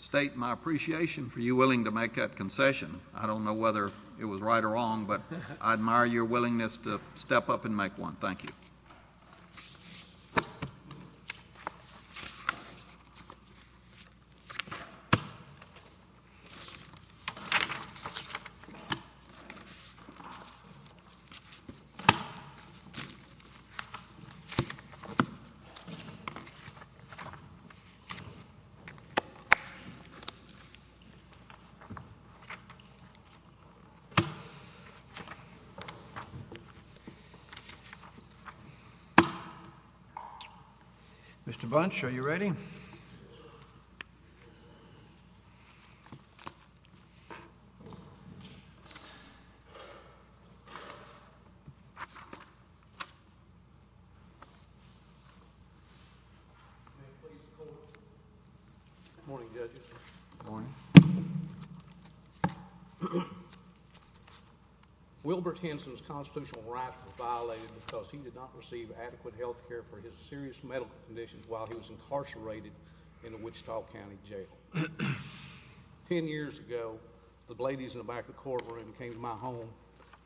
State my appreciation for you willing to make that concession I don't know whether it was right or wrong, but I admire your willingness to step up and make one. Thank you Mr. Bunch, are you ready? Wilbert Henson's constitutional rights were violated because he did not receive adequate health care for his serious medical conditions while he was incarcerated in the Wichita County Jail. Ten years ago, the ladies in the back of the courtroom came to my home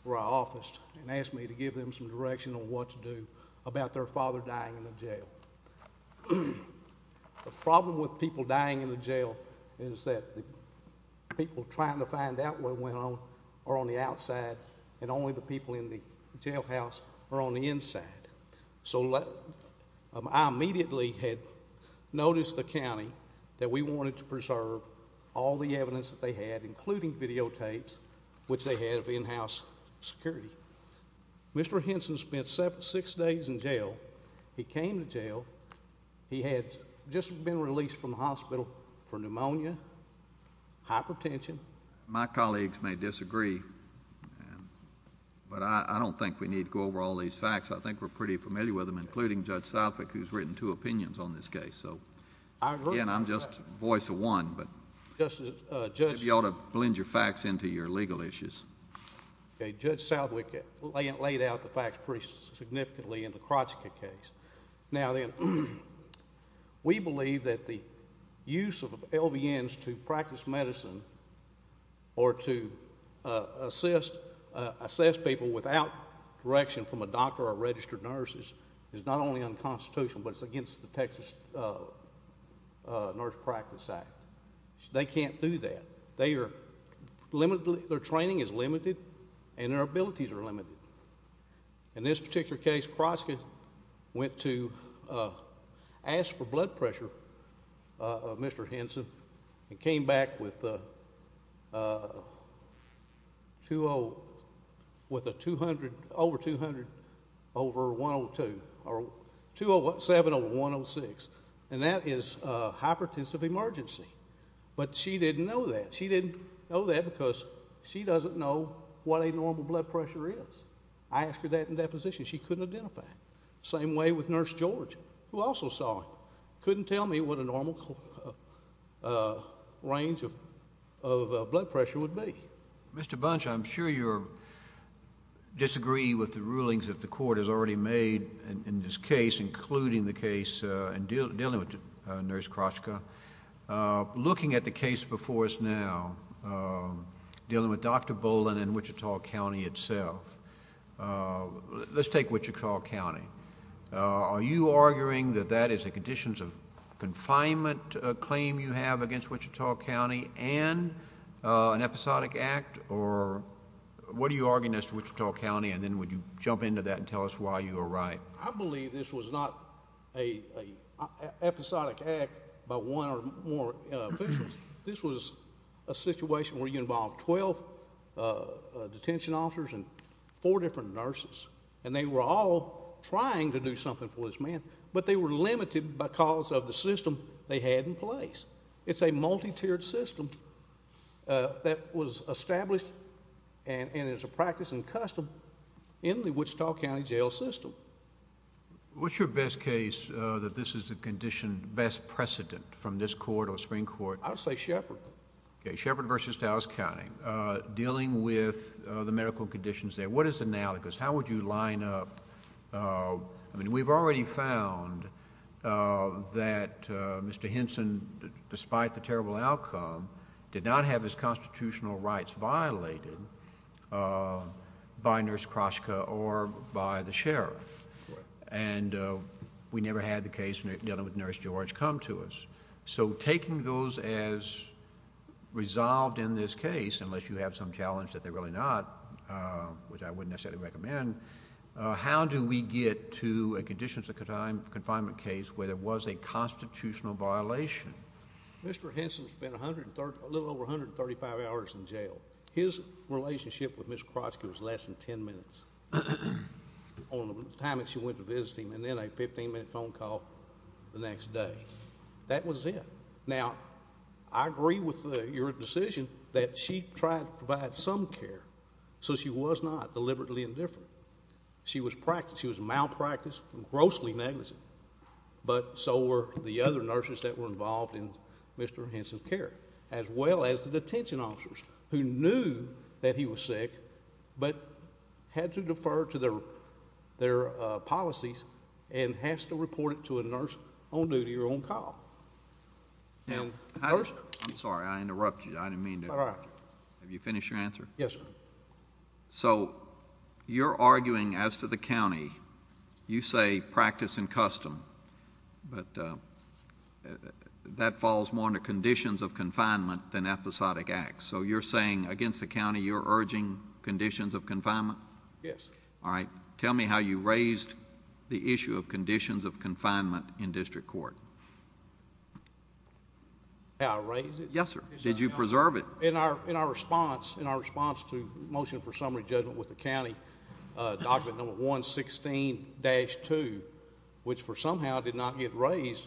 where I officed and asked me to give them some direction on what to do about their father dying in the jail. The problem with people dying in the jail is that the people trying to find out what went on are on the outside and only the people in the jail house are on the inside. So I immediately had noticed the county that we wanted to preserve all the evidence that they had, including videotapes, which they had of in-house security. Mr. Henson spent six days in jail. He came to jail. He had just been released from the hospital for pneumonia, hypertension. My colleagues may disagree, but I don't think we need to go over all these facts. I think we're pretty familiar with them, including Judge Southwick, who's written two opinions on this case. Again, I'm just the voice of one, but you ought to blend your facts into your legal issues. Judge Southwick laid out the facts pretty significantly in the Krocica case. We believe that the use of LVNs to practice medicine or to assist people without direction from a doctor or registered nurse is not only unconstitutional, but it's against the Texas Nurse Practice Act. They can't do that. Their training is limited and their abilities are limited. In this particular case, Krocica went to ask for blood pressure of Mr. Henson and came back with a 207 over 106, and that is hypertensive emergency. But she didn't know that. She didn't know that because she doesn't know what a normal blood pressure is. I asked her that in deposition. She couldn't identify it. Same way with Nurse George, who also saw it. Couldn't tell me what a normal range of blood pressure would be. Mr. Bunch, I'm sure you disagree with the rulings that the court has already made in this case, including the case dealing with Nurse Krocica. Looking at the case before us now, dealing with Dr. Boland and Wichita County itself, let's take Wichita County. Are you arguing that that is a conditions of confinement claim you have against Wichita County and an episodic act? Or what are you arguing as to Wichita County, and then would you jump into that and tell us why you are right? I believe this was not an episodic act by one or more officials. This was a situation where you involved 12 detention officers and four different nurses, and they were all trying to do something for this man. But they were limited because of the system they had in place. It's a multi-tiered system that was established and is a practice and custom in the Wichita County jail system. What's your best case that this is the condition, best precedent from this court or the Supreme Court? I would say Shepard. Okay, Shepard v. Dallas County. Dealing with the medical conditions there, what is the analogous? How would you line up... I mean, we've already found that Mr. Henson, despite the terrible outcome, did not have his constitutional rights violated by Nurse Kroshka or by the sheriff. And we never had the case dealing with Nurse George come to us. So taking those as resolved in this case, unless you have some challenge that they're really not, which I wouldn't necessarily recommend, how do we get to a conditions of confinement case where there was a constitutional violation? Mr. Henson spent a little over 135 hours in jail. His relationship with Nurse Kroshka was less than 10 minutes on the time that she went to visit him and then a 15-minute phone call the next day. That was it. Now, I agree with your decision that she tried to provide some care, so she was not deliberately indifferent. She was malpracticed and grossly negligent, but so were the other nurses that were involved in Mr. Henson's care, as well as the detention officers who knew that he was sick but had to defer to their policies and has to report it to a nurse on duty or on call. Nurse... I'm sorry. I interrupted you. I didn't mean to... All right. Have you finished your answer? Yes, sir. So you're arguing as to the county, you say practice and custom, but that falls more under conditions of confinement than episodic acts. So you're saying against the county, you're urging conditions of confinement? Yes, sir. All right. Tell me how you raised the issue of conditions of confinement in district court. How I raised it? Yes, sir. Did you preserve it? In our response to the motion for summary judgment with the county, document number 116-2, which somehow did not get raised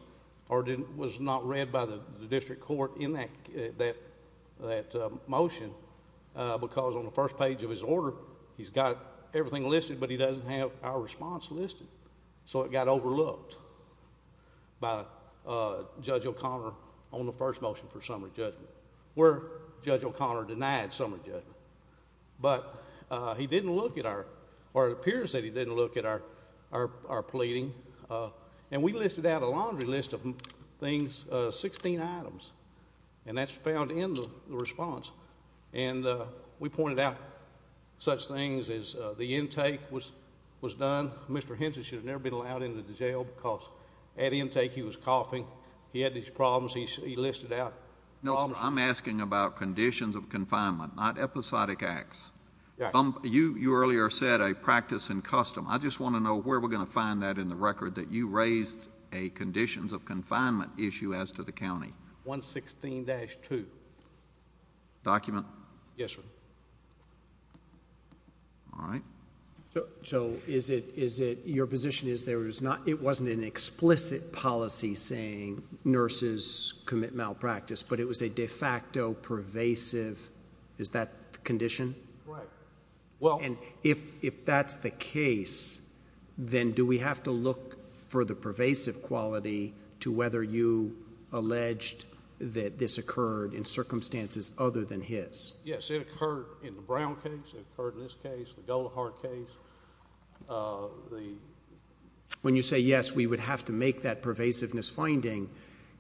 or was not read by the district court in that motion because on the first page of his order, he's got everything listed, but he doesn't have our response listed. So it got overlooked by Judge O'Connor on the first motion for summary judgment. Where Judge O'Connor denied summary judgment. But he didn't look at our... or it appears that he didn't look at our pleading. And we listed out a laundry list of things, 16 items, and that's found in the response. And we pointed out such things as the intake was done. Mr. Henson should have never been allowed into the jail because at intake he was coughing. He had these problems he listed out. No, I'm asking about conditions of confinement, not episodic acts. You earlier said a practice in custom. I just want to know where we're going to find that in the record that you raised a conditions of confinement issue as to the county. 116-2. Document? Yes, sir. All right. So is it... your position is it wasn't an explicit policy saying nurses commit malpractice, but it was a de facto pervasive... is that the condition? Right. Well... And if that's the case, then do we have to look for the pervasive quality to whether you alleged that this occurred in circumstances other than his? Yes. Has it occurred in the Brown case? Has it occurred in this case, the Goldahart case? When you say, yes, we would have to make that pervasiveness finding,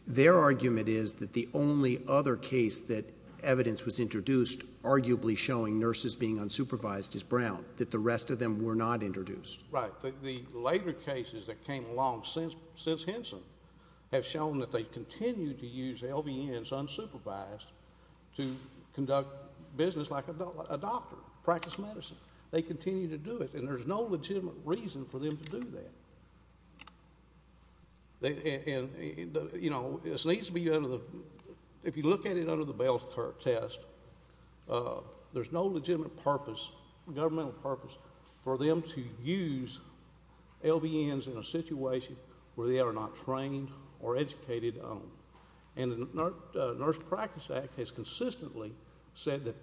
their argument is that the only other case that evidence was introduced arguably showing nurses being unsupervised is Brown, that the rest of them were not introduced. Right. The later cases that came along since Henson have shown that they continue to use LVNs unsupervised to conduct business like a doctor, practice medicine. They continue to do it, and there's no legitimate reason for them to do that. And, you know, this needs to be under the... if you look at it under the Bell-Kirk test, there's no legitimate purpose, governmental purpose, for them to use LVNs in a situation where they are not trained or educated on them. And the Nurse Practice Act has consistently said that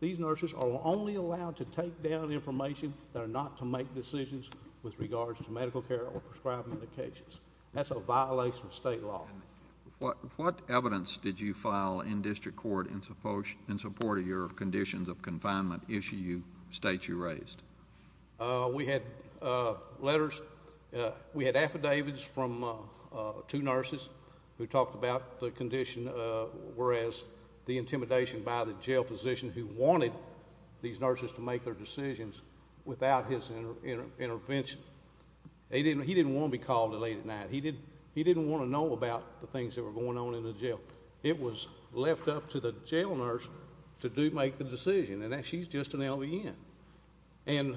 these nurses are only allowed to take down information that are not to make decisions with regards to medical care or prescribing medications. That's a violation of state law. What evidence did you file in district court in support of your conditions of confinement issue state you raised? We had letters. We had affidavits from two nurses who talked about the condition, whereas the intimidation by the jail physician who wanted these nurses to make their decisions without his intervention. He didn't want to be called in late at night. He didn't want to know about the things that were going on in the jail. It was left up to the jail nurse to make the decision, and she's just an LVN. And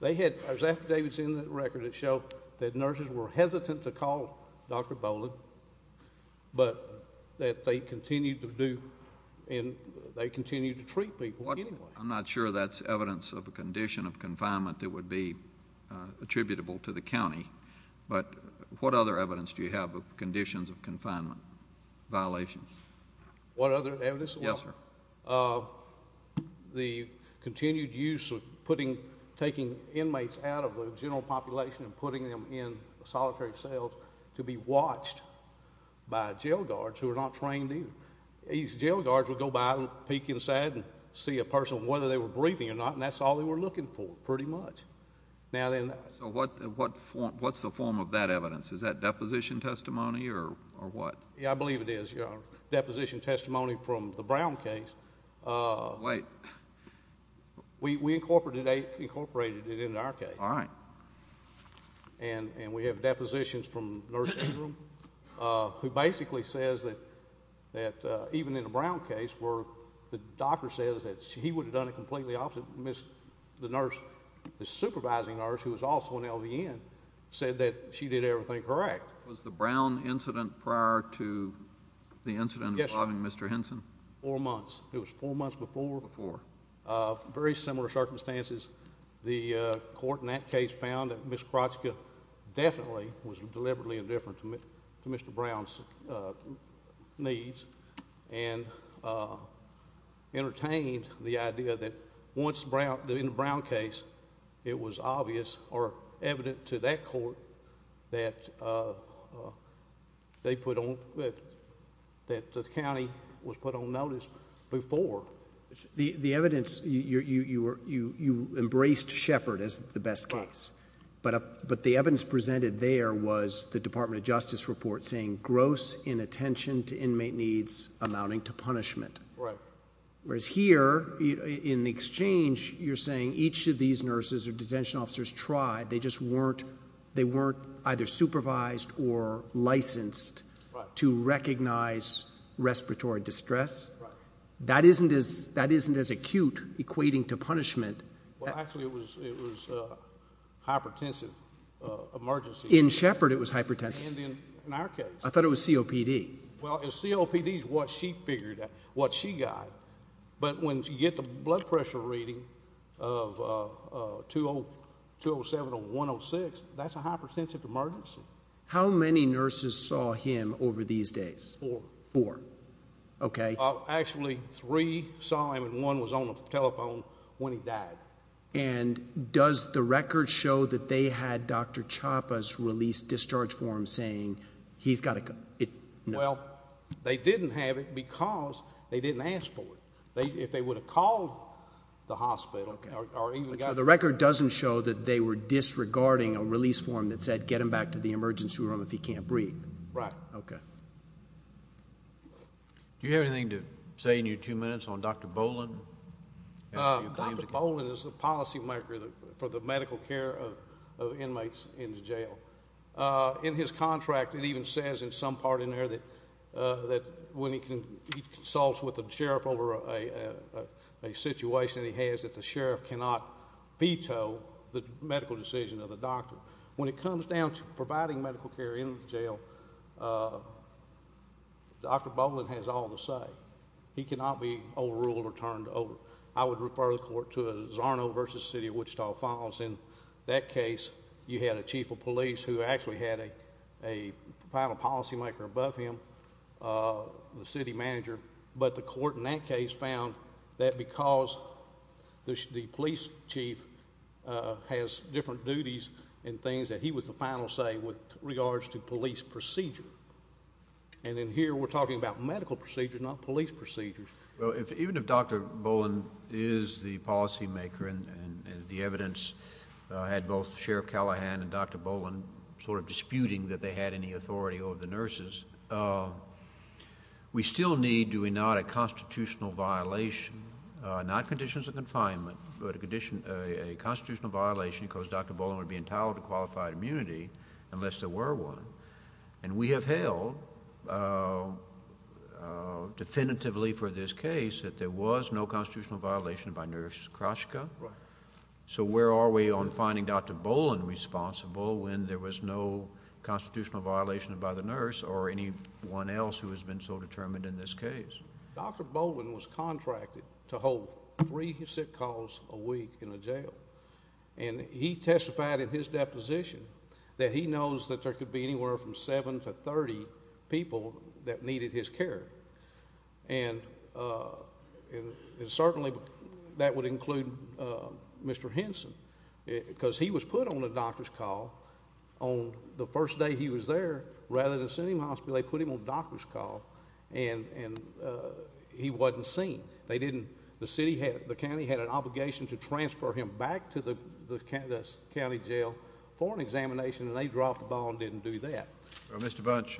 they had affidavits in the record that showed that nurses were hesitant to call Dr. Boland, but that they continued to do and they continued to treat people anyway. I'm not sure that's evidence of a condition of confinement that would be attributable to the county, but what other evidence do you have of conditions of confinement violations? What other evidence? Yes, sir. The continued use of taking inmates out of the general population and putting them in solitary cells to be watched by jail guards who are not trained either. These jail guards would go by and peek inside and see a person, whether they were breathing or not, and that's all they were looking for pretty much. So what's the form of that evidence? Is that deposition testimony or what? I believe it is, Your Honor, deposition testimony from the Brown case. Wait. We incorporated it in our case. All right. And we have depositions from Nurse Ingram, who basically says that even in the Brown case where the doctor says that he would have done it completely opposite, the supervising nurse, who was also an LVN, said that she did everything correct. Was the Brown incident prior to the incident involving Mr. Henson? Yes, sir. Four months. It was four months before. Before. Very similar circumstances. The court in that case found that Ms. Kroczka definitely was deliberately indifferent to Mr. Brown's needs and entertained the idea that in the Brown case it was obvious or evident to that court that the county was put on notice before. The evidence, you embraced Shepard as the best case. Right. But the evidence presented there was the Department of Justice report saying gross inattention to inmate needs amounting to punishment. Right. Whereas here in the exchange you're saying each of these nurses or detention officers tried. They just weren't either supervised or licensed to recognize respiratory distress. Right. That isn't as acute equating to punishment. Well, actually it was hypertensive emergency. In Shepard it was hypertensive. And in our case. I thought it was COPD. Well, COPD is what she figured out, what she got. But when you get the blood pressure reading of 207 or 106, that's a hypertensive emergency. How many nurses saw him over these days? Four. Four. Okay. Actually three saw him and one was on the telephone when he died. And does the record show that they had Dr. Chapa's release discharge form saying he's got to... If they would have called the hospital... The record doesn't show that they were disregarding a release form that said get him back to the emergency room if he can't breathe. Right. Okay. Do you have anything to say in your two minutes on Dr. Boland? Dr. Boland is the policymaker for the medical care of inmates in jail. In his contract it even says in some part in there that when he consults with the sheriff over a situation he has that the sheriff cannot veto the medical decision of the doctor. When it comes down to providing medical care in jail, Dr. Boland has all the say. He cannot be overruled or turned over. I would refer the court to Zarno v. City of Wichita Files. In that case you had a chief of police who actually had a final policymaker above him, the city manager. But the court in that case found that because the police chief has different duties and things that he was the final say with regards to police procedure. And then here we're talking about medical procedures, not police procedures. Even if Dr. Boland is the policymaker and the evidence had both Sheriff Callahan and Dr. Boland sort of disputing that they had any authority over the nurses, we still need, do we not, a constitutional violation, not conditions of confinement, but a constitutional violation because Dr. Boland would be entitled to qualified immunity unless there were one. And we have held definitively for this case that there was no constitutional violation by Nurse Kroshka. So where are we on finding Dr. Boland responsible when there was no constitutional violation by the nurse or anyone else who has been so determined in this case? Dr. Boland was contracted to hold three sick calls a week in a jail. And he testified in his deposition that he knows that there could be anywhere from 7 to 30 people that needed his care. And certainly that would include Mr. Henson because he was put on a doctor's call on the first day he was there rather than send him to the hospital, so they put him on a doctor's call and he wasn't seen. The county had an obligation to transfer him back to the county jail for an examination, and they dropped the ball and didn't do that. Well, Mr. Bunch,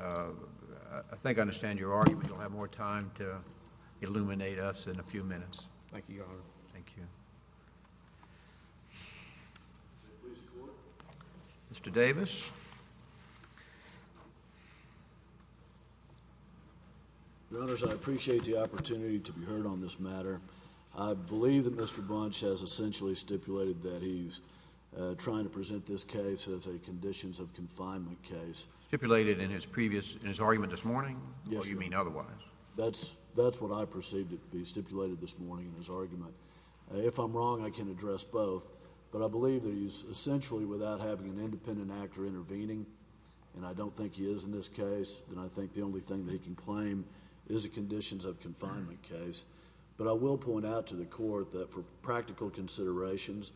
I think I understand your argument. You'll have more time to illuminate us in a few minutes. Thank you, Your Honor. Thank you. Mr. Davis. Your Honors, I appreciate the opportunity to be heard on this matter. I believe that Mr. Bunch has essentially stipulated that he's trying to present this case as a conditions of confinement case. Stipulated in his previous argument this morning? Yes, sir. Or you mean otherwise? That's what I perceived to be stipulated this morning in his argument. If I'm wrong, I can address both, but I believe that he's essentially without having an independent actor intervening, and I don't think he is in this case, and I think the only thing that he can claim is a conditions of confinement case. But I will point out to the court that for practical considerations,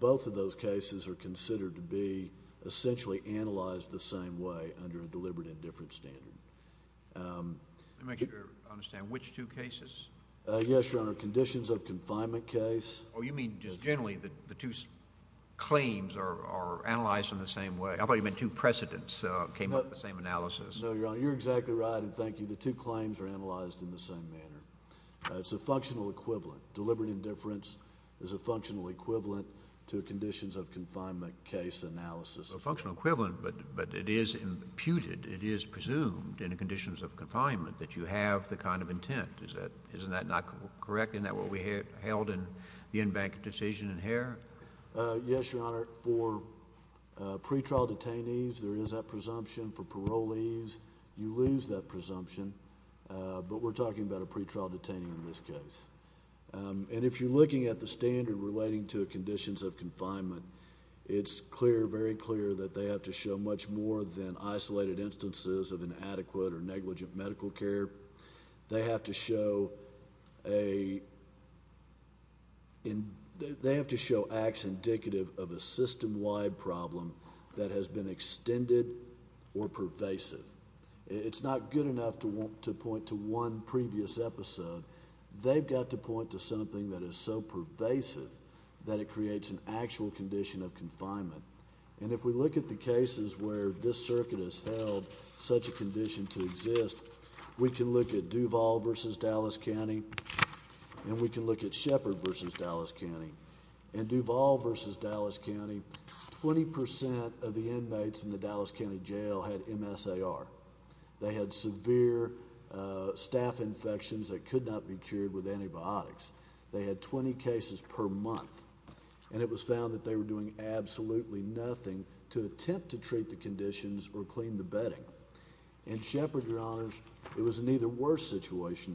both of those cases are considered to be essentially analyzed the same way under a deliberate indifference standard. Let me make sure I understand. Which two cases? Yes, Your Honor. Conditions of confinement case. Oh, you mean just generally the two claims are analyzed in the same way? I thought you meant two precedents came up in the same analysis. No, Your Honor. You're exactly right, and thank you. The two claims are analyzed in the same manner. It's a functional equivalent. Deliberate indifference is a functional equivalent to a conditions of confinement case analysis. A functional equivalent, but it is imputed, it is presumed in a conditions of confinement that you have the kind of intent. Isn't that not correct? Isn't that what we held in the in-bank decision in Hare? Yes, Your Honor. For pretrial detainees, there is that presumption. For parolees, you lose that presumption, but we're talking about a pretrial detainee in this case. And if you're looking at the standard relating to conditions of confinement, it's clear, very clear, that they have to show much more than isolated instances of inadequate or negligent medical care. They have to show acts indicative of a system-wide problem that has been extended or pervasive. It's not good enough to point to one previous episode. They've got to point to something that is so pervasive that it creates an actual condition of confinement. And if we look at the cases where this circuit has held such a condition to exist, we can look at Duval v. Dallas County, and we can look at Shepherd v. Dallas County. In Duval v. Dallas County, 20% of the inmates in the Dallas County Jail had MSAR. They had severe staph infections that could not be cured with antibiotics. They had 20 cases per month, and it was found that they were doing absolutely nothing to attempt to treat the conditions or clean the bedding. In Shepherd, Your Honors, it was an even worse situation.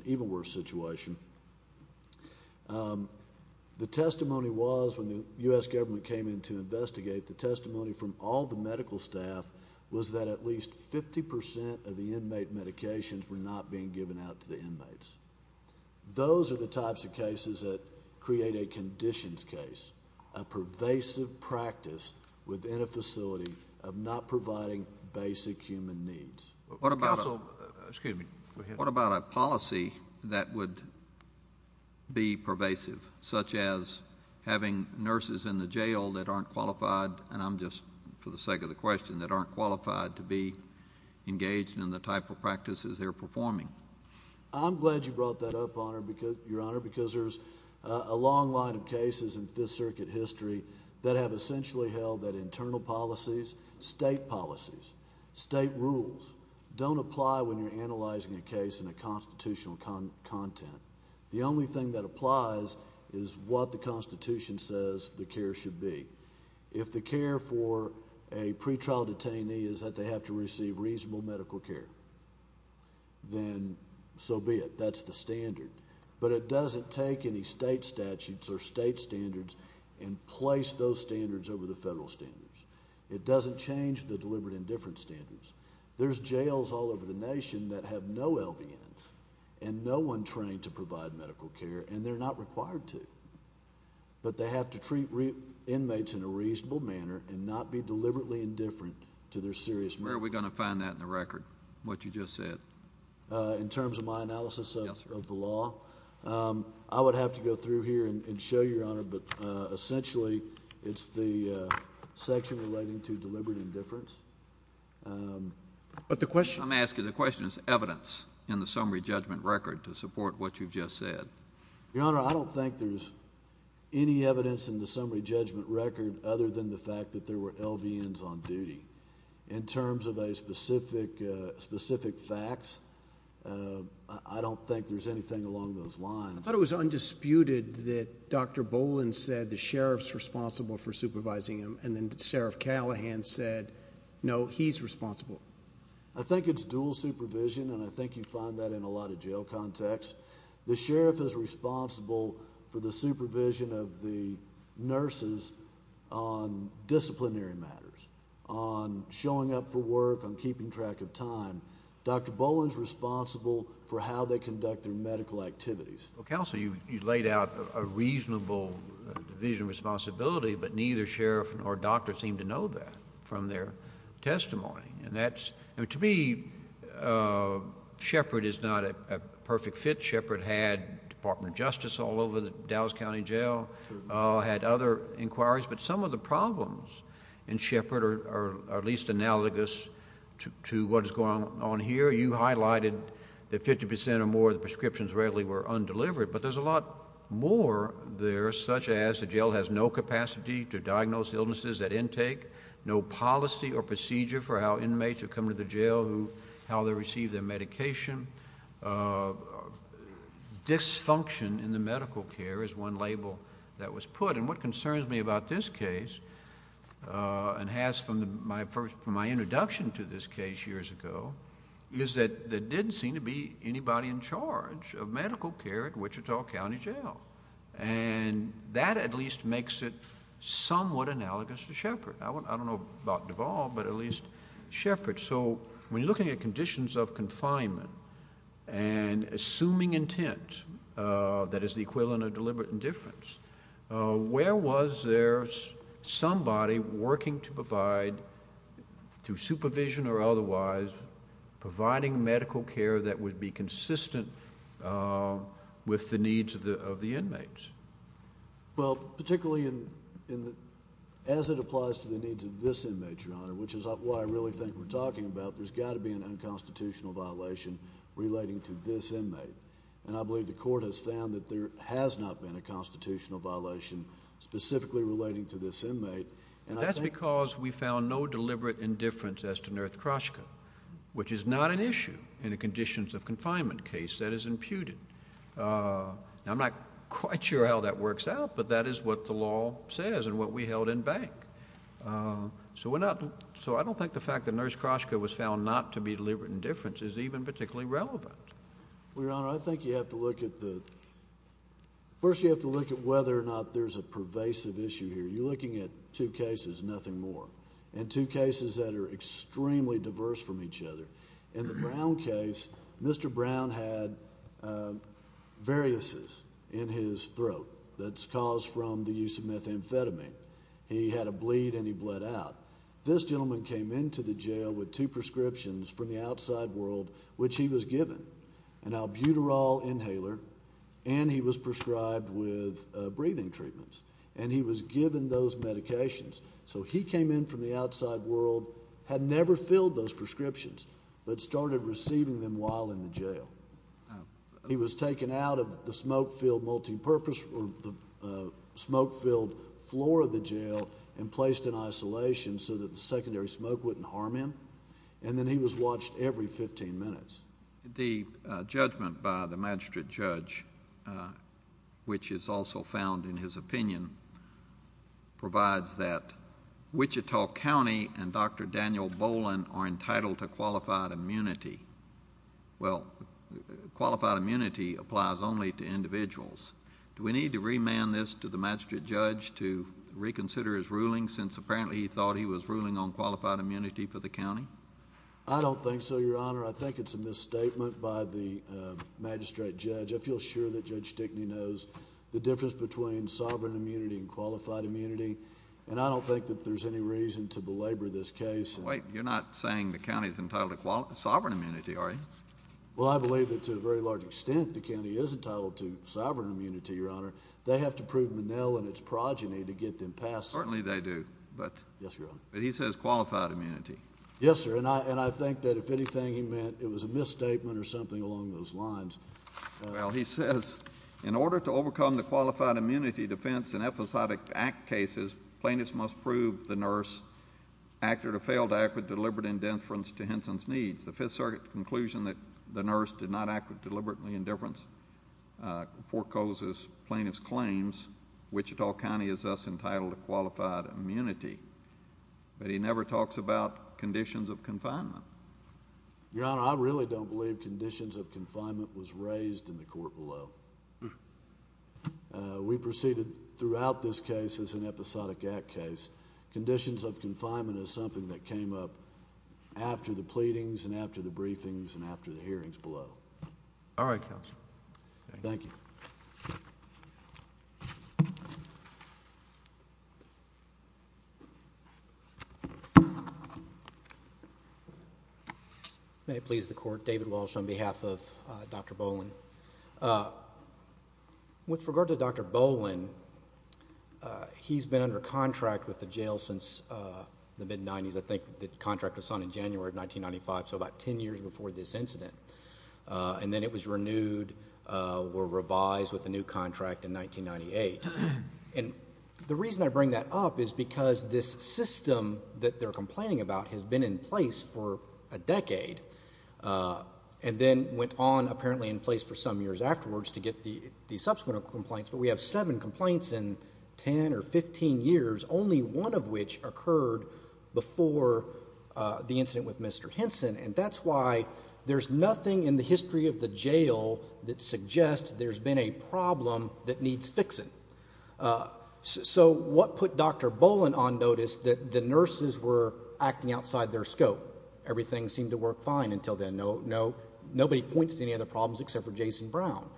The testimony was, when the U.S. government came in to investigate, the testimony from all the medical staff was that at least 50% of the inmate medications were not being given out to the inmates. Those are the types of cases that create a conditions case, a pervasive practice within a facility of not providing basic human needs. What about a policy that would be pervasive, such as having nurses in the jail that aren't qualified, and I'm just for the sake of the question, that aren't qualified to be engaged in the type of practices they're performing? I'm glad you brought that up, Your Honor, because there's a long line of cases in Fifth Circuit history that have essentially held that internal policies, state policies, state rules, don't apply when you're analyzing a case in a constitutional content. The only thing that applies is what the Constitution says the care should be. If the care for a pretrial detainee is that they have to receive reasonable medical care, then so be it. That's the standard. But it doesn't take any state statutes or state standards and place those standards over the federal standards. It doesn't change the deliberate indifference standards. There's jails all over the nation that have no LVNs and no one trained to provide medical care, and they're not required to. But they have to treat inmates in a reasonable manner and not be deliberately indifferent to their serious needs. Where are we going to find that in the record, what you just said? In terms of my analysis of the law? Yes, sir. I would have to go through here and show you, Your Honor, but essentially it's the section relating to deliberate indifference. But the question— I'm asking, the question is evidence in the summary judgment record to support what you've just said. Your Honor, I don't think there's any evidence in the summary judgment record other than the fact that there were LVNs on duty. In terms of specific facts, I don't think there's anything along those lines. I thought it was undisputed that Dr. Boland said the sheriff's responsible for supervising him, and then Sheriff Callahan said, no, he's responsible. I think it's dual supervision, and I think you find that in a lot of jail contexts. The sheriff is responsible for the supervision of the nurses on disciplinary matters, on showing up for work, on keeping track of time. Dr. Boland's responsible for how they conduct their medical activities. Counsel, you laid out a reasonable division of responsibility, but neither sheriff nor doctor seemed to know that from their testimony. To me, Shepard is not a perfect fit. Shepard had Department of Justice all over the Dallas County Jail, had other inquiries, but some of the problems in Shepard are at least analogous to what is going on here. You highlighted that 50% or more of the prescriptions rarely were undelivered, but there's a lot more there, such as the jail has no capacity to diagnose illnesses at intake, no policy or procedure for how inmates who come to the jail, how they receive their medication. Dysfunction in the medical care is one label that was put. What concerns me about this case, and has from my introduction to this case years ago, is that there didn't seem to be anybody in charge of medical care at Wichita County Jail. That at least makes it somewhat analogous to Shepard. I don't know about Duvall, but at least Shepard. When you're looking at conditions of confinement and assuming intent, that is the equivalent of deliberate indifference, where was there somebody working to provide, through supervision or otherwise, providing medical care that would be consistent with the needs of the inmates? Particularly as it applies to the needs of this inmate, Your Honor, which is what I really think we're talking about, there's got to be an unconstitutional violation relating to this inmate. I believe the court has found that there has not been a constitutional violation specifically relating to this inmate. That's because we found no deliberate indifference as to Nurse Kroshka, which is not an issue in a conditions of confinement case that is imputed. I'm not quite sure how that works out, but that is what the law says and what we held in bank. So I don't think the fact that Nurse Kroshka was found not to be deliberate indifference is even particularly relevant. Well, Your Honor, I think you have to look at the... First you have to look at whether or not there's a pervasive issue here. You're looking at two cases, nothing more, and two cases that are extremely diverse from each other. In the Brown case, Mr. Brown had varices in his throat that's caused from the use of methamphetamine. He had a bleed and he bled out. This gentleman came into the jail with two prescriptions from the outside world, which he was given, an albuterol inhaler, and he was prescribed with breathing treatments, and he was given those medications. So he came in from the outside world, had never filled those prescriptions, but started receiving them while in the jail. He was taken out of the smoke-filled multipurpose or the smoke-filled floor of the jail and placed in isolation so that the secondary smoke wouldn't harm him, and then he was watched every 15 minutes. The judgment by the magistrate judge, which is also found in his opinion, provides that Wichita County and Dr. Daniel Boland are entitled to qualified immunity. Well, qualified immunity applies only to individuals. Do we need to remand this to the magistrate judge to reconsider his ruling since apparently he thought he was ruling on qualified immunity for the county? I don't think so, Your Honor. I think it's a misstatement by the magistrate judge. I feel sure that Judge Stickney knows the difference between sovereign immunity and qualified immunity, and I don't think that there's any reason to belabor this case. Wait. You're not saying the county is entitled to sovereign immunity, are you? Well, I believe that to a very large extent the county is entitled to sovereign immunity, Your Honor. They have to prove Menil and its progeny to get them passed. Certainly they do. Yes, Your Honor. But he says qualified immunity. Yes, sir, and I think that if anything he meant it was a misstatement or something along those lines. Well, he says in order to overcome the qualified immunity defense in episodic act cases, plaintiffs must prove the nurse acted or failed to act with deliberate indifference to Henson's needs. The Fifth Circuit conclusion that the nurse did not act with deliberate indifference forecloses plaintiff's claims. Wichita County is thus entitled to qualified immunity, but he never talks about conditions of confinement. Your Honor, I really don't believe conditions of confinement was raised in the court below. We proceeded throughout this case as an episodic act case. Conditions of confinement is something that came up after the pleadings and after the briefings and after the hearings below. All right, counsel. Thank you. Thank you. May it please the court. David Walsh on behalf of Dr. Boland. With regard to Dr. Boland, he's been under contract with the jail since the mid-90s. I think the contract was signed in January of 1995, so about 10 years before this incident. And then it was renewed or revised with a new contract in 1998. And the reason I bring that up is because this system that they're complaining about has been in place for a decade and then went on apparently in place for some years afterwards to get the subsequent complaints. But we have seven complaints in 10 or 15 years, only one of which occurred before the incident with Mr. Henson. And that's why there's nothing in the history of the jail that suggests there's been a problem that needs fixing. So what put Dr. Boland on notice? That the nurses were acting outside their scope. Everything seemed to work fine until then. Nobody points to any other problems except for Jason Brown.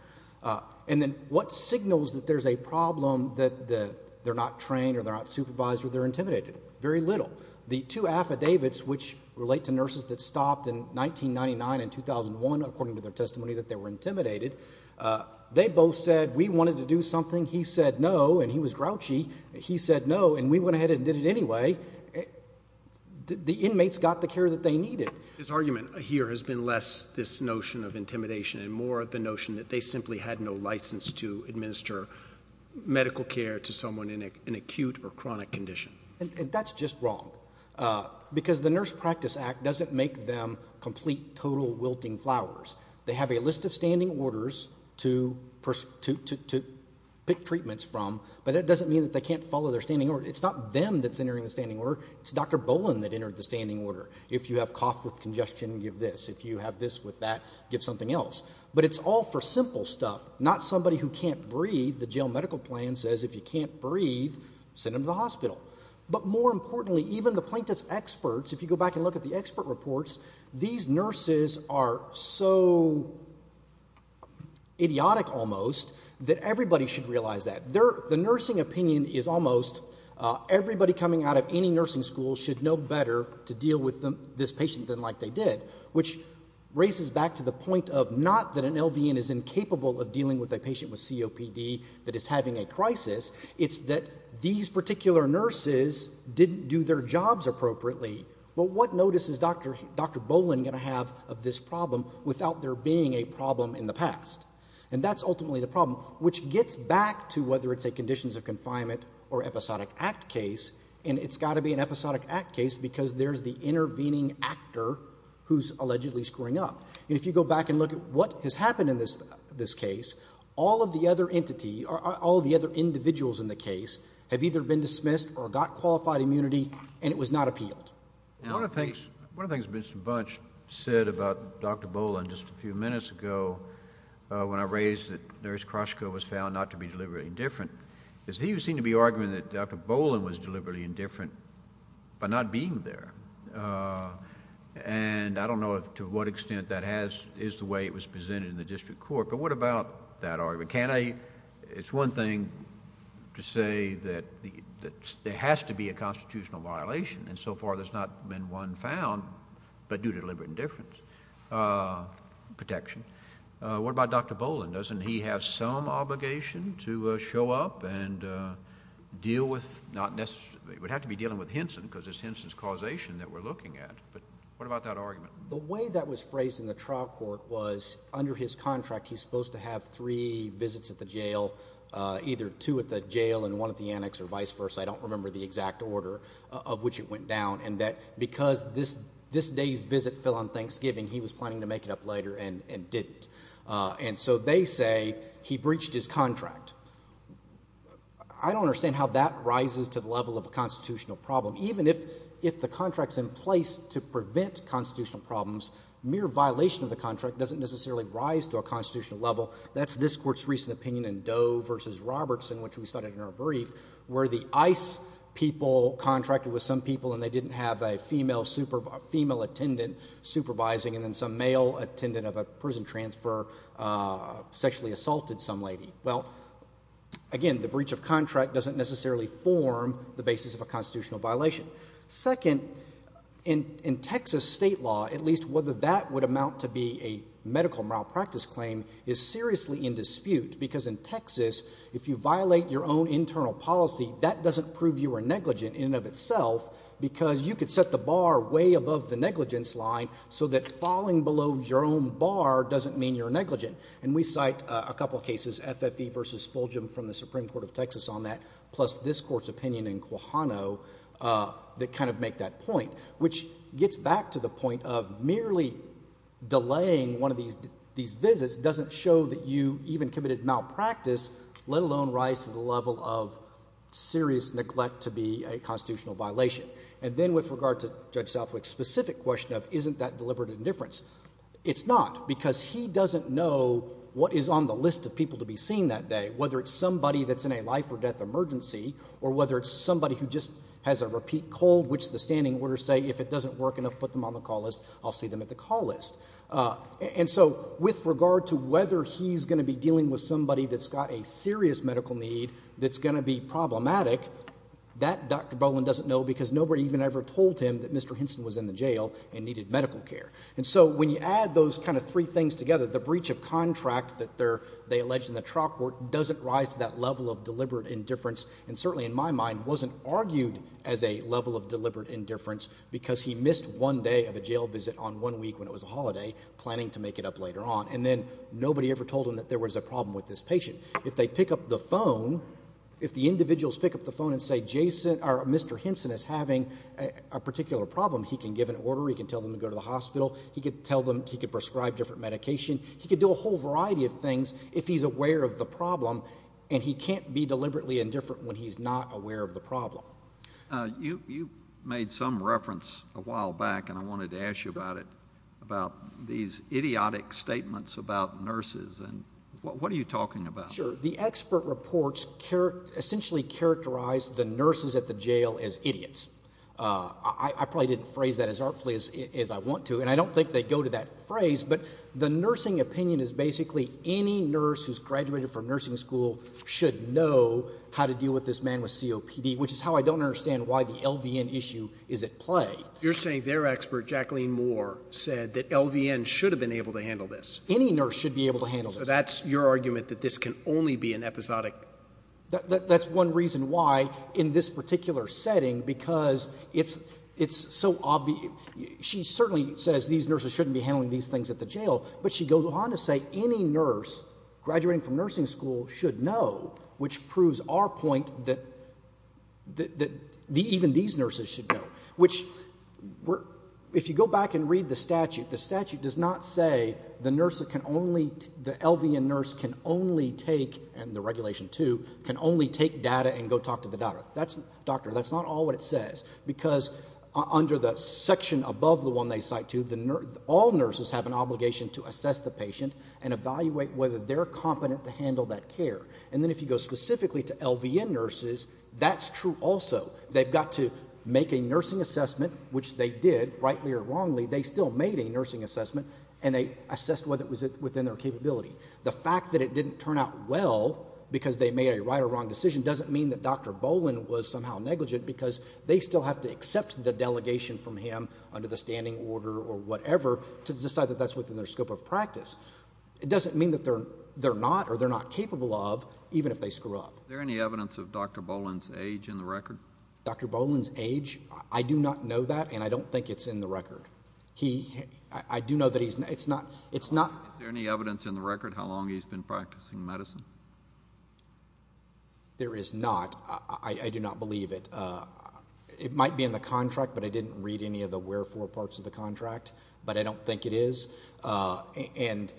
And then what signals that there's a problem that they're not trained or they're not supervised or they're intimidated? Very little. The two affidavits which relate to nurses that stopped in 1999 and 2001, according to their testimony, that they were intimidated, they both said we wanted to do something. He said no, and he was grouchy. He said no, and we went ahead and did it anyway. The inmates got the care that they needed. His argument here has been less this notion of intimidation and more the notion that they simply had no license to administer medical care to someone in an acute or chronic condition. And that's just wrong because the Nurse Practice Act doesn't make them complete total wilting flowers. They have a list of standing orders to pick treatments from, but that doesn't mean that they can't follow their standing order. It's not them that's entering the standing order. It's Dr. Boland that entered the standing order. If you have cough with congestion, give this. If you have this with that, give something else. The jail medical plan says if you can't breathe, send them to the hospital. But more importantly, even the plaintiff's experts, if you go back and look at the expert reports, these nurses are so idiotic almost that everybody should realize that. The nursing opinion is almost everybody coming out of any nursing school should know better to deal with this patient than like they did, which raises back to the point of not that an LVN is incapable of dealing with a patient with COPD that is having a crisis. It's that these particular nurses didn't do their jobs appropriately. But what notice is Dr. Boland going to have of this problem without there being a problem in the past? And that's ultimately the problem, which gets back to whether it's a conditions of confinement or episodic act case. And it's got to be an episodic act case because there's the intervening actor who's allegedly screwing up. And if you go back and look at what has happened in this case, all of the other individuals in the case have either been dismissed or got qualified immunity, and it was not appealed. One of the things Mr. Bunch said about Dr. Boland just a few minutes ago when I raised that Nurse Kroshko was found not to be deliberately indifferent, is he seemed to be arguing that Dr. Boland was deliberately indifferent by not being there. And I don't know to what extent that is the way it was presented in the district court, but what about that argument? It's one thing to say that there has to be a constitutional violation, and so far there's not been one found, but due to deliberate indifference protection. What about Dr. Boland? Doesn't he have some obligation to show up and deal with, not necessarily, it would have to be dealing with Henson because it's Henson's causation that we're looking at, but what about that argument? The way that was phrased in the trial court was under his contract he's supposed to have three visits at the jail, either two at the jail and one at the annex or vice versa, I don't remember the exact order of which it went down, and that because this day's visit fell on Thanksgiving, he was planning to make it up later and didn't. And so they say he breached his contract. I don't understand how that rises to the level of a constitutional problem. Even if the contract's in place to prevent constitutional problems, mere violation of the contract doesn't necessarily rise to a constitutional level. That's this court's recent opinion in Doe v. Roberts, in which we cited in our brief, where the ICE people contracted with some people and they didn't have a female attendant supervising and then some male attendant of a prison transfer sexually assaulted some lady. Well, again, the breach of contract doesn't necessarily form the basis of a constitutional violation. Second, in Texas state law, at least whether that would amount to be a medical malpractice claim, is seriously in dispute because in Texas, if you violate your own internal policy, that doesn't prove you are negligent in and of itself because you could set the bar way above the negligence line so that falling below your own bar doesn't mean you're negligent. And we cite a couple of cases, FFE v. Fulgham from the Supreme Court of Texas on that, plus this court's opinion in Quijano that kind of make that point, which gets back to the point of merely delaying one of these visits doesn't show that you even committed malpractice, let alone rise to the level of serious neglect to be a constitutional violation. And then with regard to Judge Southwick's specific question of isn't that deliberate indifference, it's not because he doesn't know what is on the list of people to be seen that day, whether it's somebody that's in a life or death emergency or whether it's somebody who just has a repeat cold, which the standing orders say if it doesn't work enough, put them on the call list, I'll see them at the call list. And so with regard to whether he's going to be dealing with somebody that's got a serious medical need that's going to be problematic, that Dr. Boland doesn't know because nobody even ever told him that Mr. Hinson was in the jail and needed medical care. And so when you add those kind of three things together, the breach of contract that they allege in the trial court doesn't rise to that level of deliberate indifference and certainly in my mind wasn't argued as a level of deliberate indifference because he missed one day of a jail visit on one week when it was a holiday, planning to make it up later on. And then nobody ever told him that there was a problem with this patient. If they pick up the phone, if the individuals pick up the phone and say Jason or Mr. Hinson is having a particular problem, he can give an order, he can tell them to go to the hospital, he could tell them he could prescribe different medication, he could do a whole variety of things if he's aware of the problem and he can't be deliberately indifferent when he's not aware of the problem. You made some reference a while back and I wanted to ask you about it, about these idiotic statements about nurses and what are you talking about? Sure. The expert reports essentially characterize the nurses at the jail as idiots. I probably didn't phrase that as artfully as I want to and I don't think they go to that phrase but the nursing opinion is basically any nurse who's graduated from nursing school should know how to deal with this man with COPD, which is how I don't understand why the LVN issue is at play. You're saying their expert, Jacqueline Moore, said that LVN should have been able to handle this? Any nurse should be able to handle this. So that's your argument that this can only be an episodic? That's one reason why in this particular setting because it's so obvious. She certainly says these nurses shouldn't be handling these things at the jail but she goes on to say any nurse graduating from nursing school should know, which proves our point that even these nurses should know, which if you go back and read the statute, the statute does not say the LVN nurse can only take, and the regulation too, can only take data and go talk to the doctor. That's not all what it says because under the section above the one they cite to, all nurses have an obligation to assess the patient and evaluate whether they're competent to handle that care. And then if you go specifically to LVN nurses, that's true also. They've got to make a nursing assessment, which they did, rightly or wrongly, they still made a nursing assessment and they assessed whether it was within their capability. The fact that it didn't turn out well because they made a right or wrong decision doesn't mean that Dr. Boland was somehow negligent because they still have to accept the delegation from him under the standing order or whatever to decide that that's within their scope of practice. It doesn't mean that they're not or they're not capable of, even if they screw up. Is there any evidence of Dr. Boland's age in the record? Dr. Boland's age? I do not know that and I don't think it's in the record. I do know that it's not. Is there any evidence in the record how long he's been practicing medicine? There is not. I do not believe it. It might be in the contract, but I didn't read any of the wherefore parts of the contract, but I don't think it is. But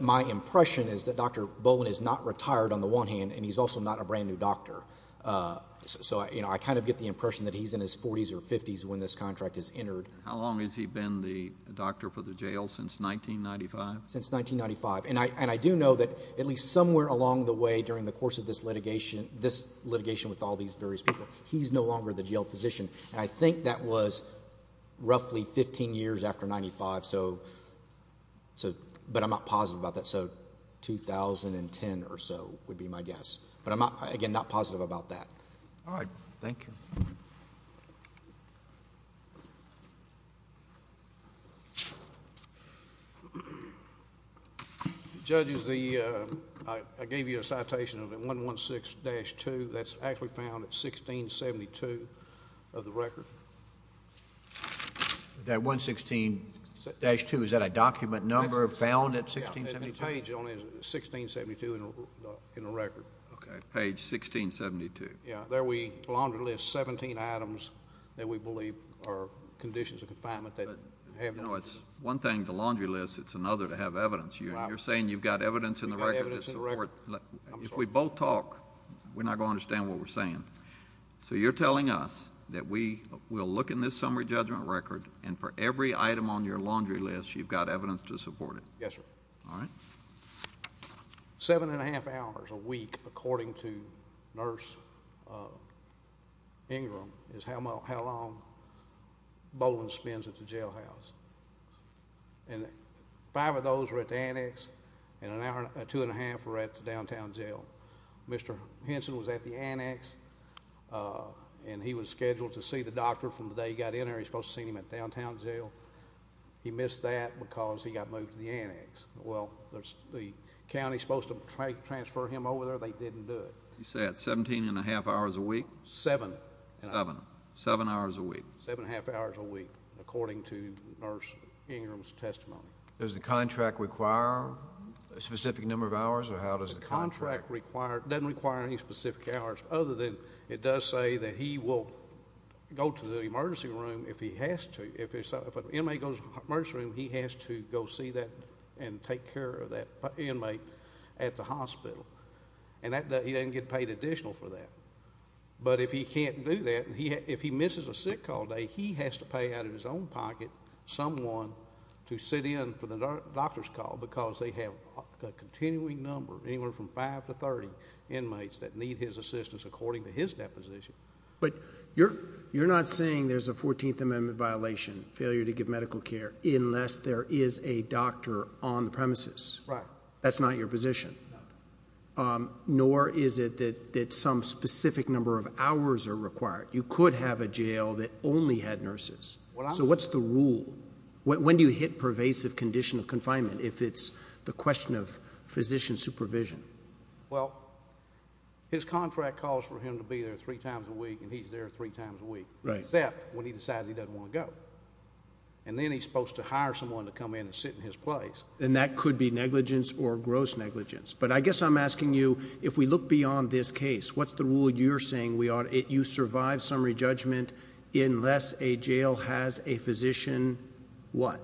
my impression is that Dr. Boland is not retired on the one hand and he's also not a brand-new doctor. So I kind of get the impression that he's in his 40s or 50s when this contract is entered. How long has he been the doctor for the jail? Since 1995? Since 1995, and I do know that at least somewhere along the way during the course of this litigation with all these various people, he's no longer the jail physician, and I think that was roughly 15 years after 1995, but I'm not positive about that, so 2010 or so would be my guess. But again, I'm not positive about that. All right. Thank you. Judges, I gave you a citation of 116-2. That's actually found at 1672 of the record. That 116-2, is that a document number found at 1672? Yeah, it's on page 1672 in the record. Okay, page 1672. Yeah, there we laundry list 17 items that we believe are conditions of confinement. You know, it's one thing to laundry list, it's another to have evidence. You're saying you've got evidence in the record. If we both talk, we're not going to understand what we're saying. So you're telling us that we will look in this summary judgment record and for every item on your laundry list you've got evidence to support it. Yes, sir. All right. Seven and a half hours a week, according to Nurse Ingram, is how long Boland spends at the jailhouse. And five of those were at the annex, and two and a half were at the downtown jail. Mr. Henson was at the annex, and he was scheduled to see the doctor from the day he got in there. He was supposed to see him at downtown jail. He missed that because he got moved to the annex. Well, the county is supposed to transfer him over there. They didn't do it. You said 17 and a half hours a week? Seven. Seven. Seven hours a week. Seven and a half hours a week, according to Nurse Ingram's testimony. Does the contract require a specific number of hours, or how does the contract work? The contract doesn't require any specific hours, other than it does say that he will go to the emergency room if he has to. He has to go see that and take care of that inmate at the hospital. And he doesn't get paid additional for that. But if he can't do that, if he misses a sick call day, he has to pay out of his own pocket someone to sit in for the doctor's call because they have a continuing number, anywhere from five to 30 inmates, that need his assistance according to his deposition. But you're not saying there's a 14th Amendment violation, failure to give medical care, unless there is a doctor on the premises? Right. That's not your position? No. Nor is it that some specific number of hours are required? You could have a jail that only had nurses. So what's the rule? When do you hit pervasive condition of confinement if it's the question of physician supervision? Well, his contract calls for him to be there three times a week, and he's there three times a week, except when he decides he doesn't want to go. And then he's supposed to hire someone to come in and sit in his place. And that could be negligence or gross negligence. But I guess I'm asking you, if we look beyond this case, what's the rule you're saying you survive summary judgment unless a jail has a physician what?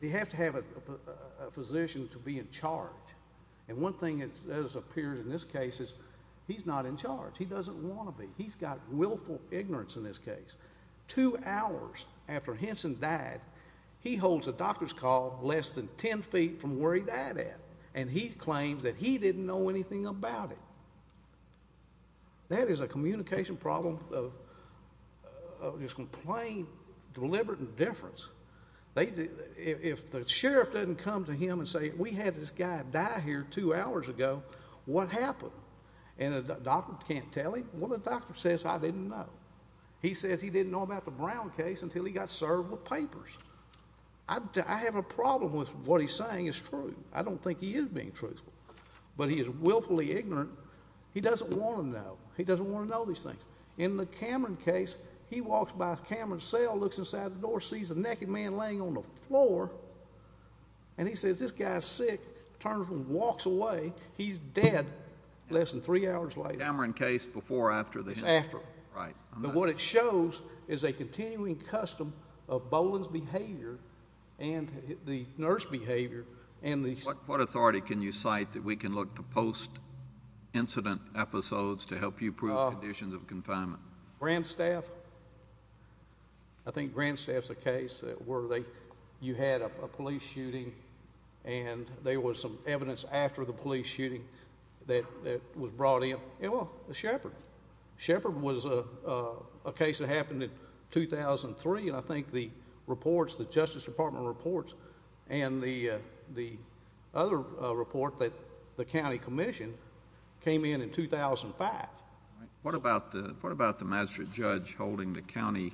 You have to have a physician to be in charge. He doesn't want to be. He's got willful ignorance in this case. Two hours after Henson died, he holds a doctor's call less than ten feet from where he died at, and he claims that he didn't know anything about it. That is a communication problem of just plain deliberate indifference. If the sheriff doesn't come to him and say, we had this guy die here two hours ago, what happened? And the doctor can't tell him? Well, the doctor says, I didn't know. He says he didn't know about the Brown case until he got served with papers. I have a problem with what he's saying is true. I don't think he is being truthful. But he is willfully ignorant. He doesn't want to know. He doesn't want to know these things. In the Cameron case, he walks by Cameron's cell, looks inside the door, sees a naked man laying on the floor, and he says, this guy is sick, turns and walks away. He's dead less than three hours later. The Cameron case before or after the Henson? It's after. Right. But what it shows is a continuing custom of Boland's behavior and the nurse's behavior. What authority can you cite that we can look to post-incident episodes to help you prove conditions of confinement? Grandstaff. I think Grandstaff is a case where you had a police shooting and there was some evidence after the police shooting that was brought in. Well, Shepard. Shepard was a case that happened in 2003, and I think the reports, the Justice Department reports, and the other report that the county commission came in in 2005. What about the magistrate judge holding the county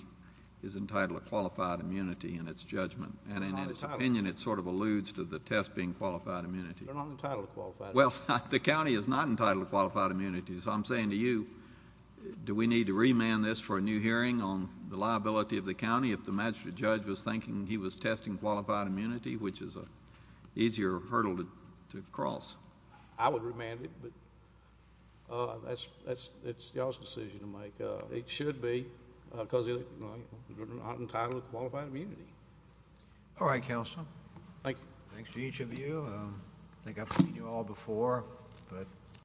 is entitled to qualified immunity in its judgment? And in his opinion, it sort of alludes to the test being qualified immunity. They're not entitled to qualified immunity. Well, the county is not entitled to qualified immunity. So I'm saying to you, do we need to remand this for a new hearing on the liability of the county if the magistrate judge was thinking he was testing qualified immunity, which is an easier hurdle to cross? I would remand it, but that's y'all's decision to make. It should be because you're not entitled to qualified immunity. All right, Counselor. Thank you. Thanks to each of you. I think I've seen you all before.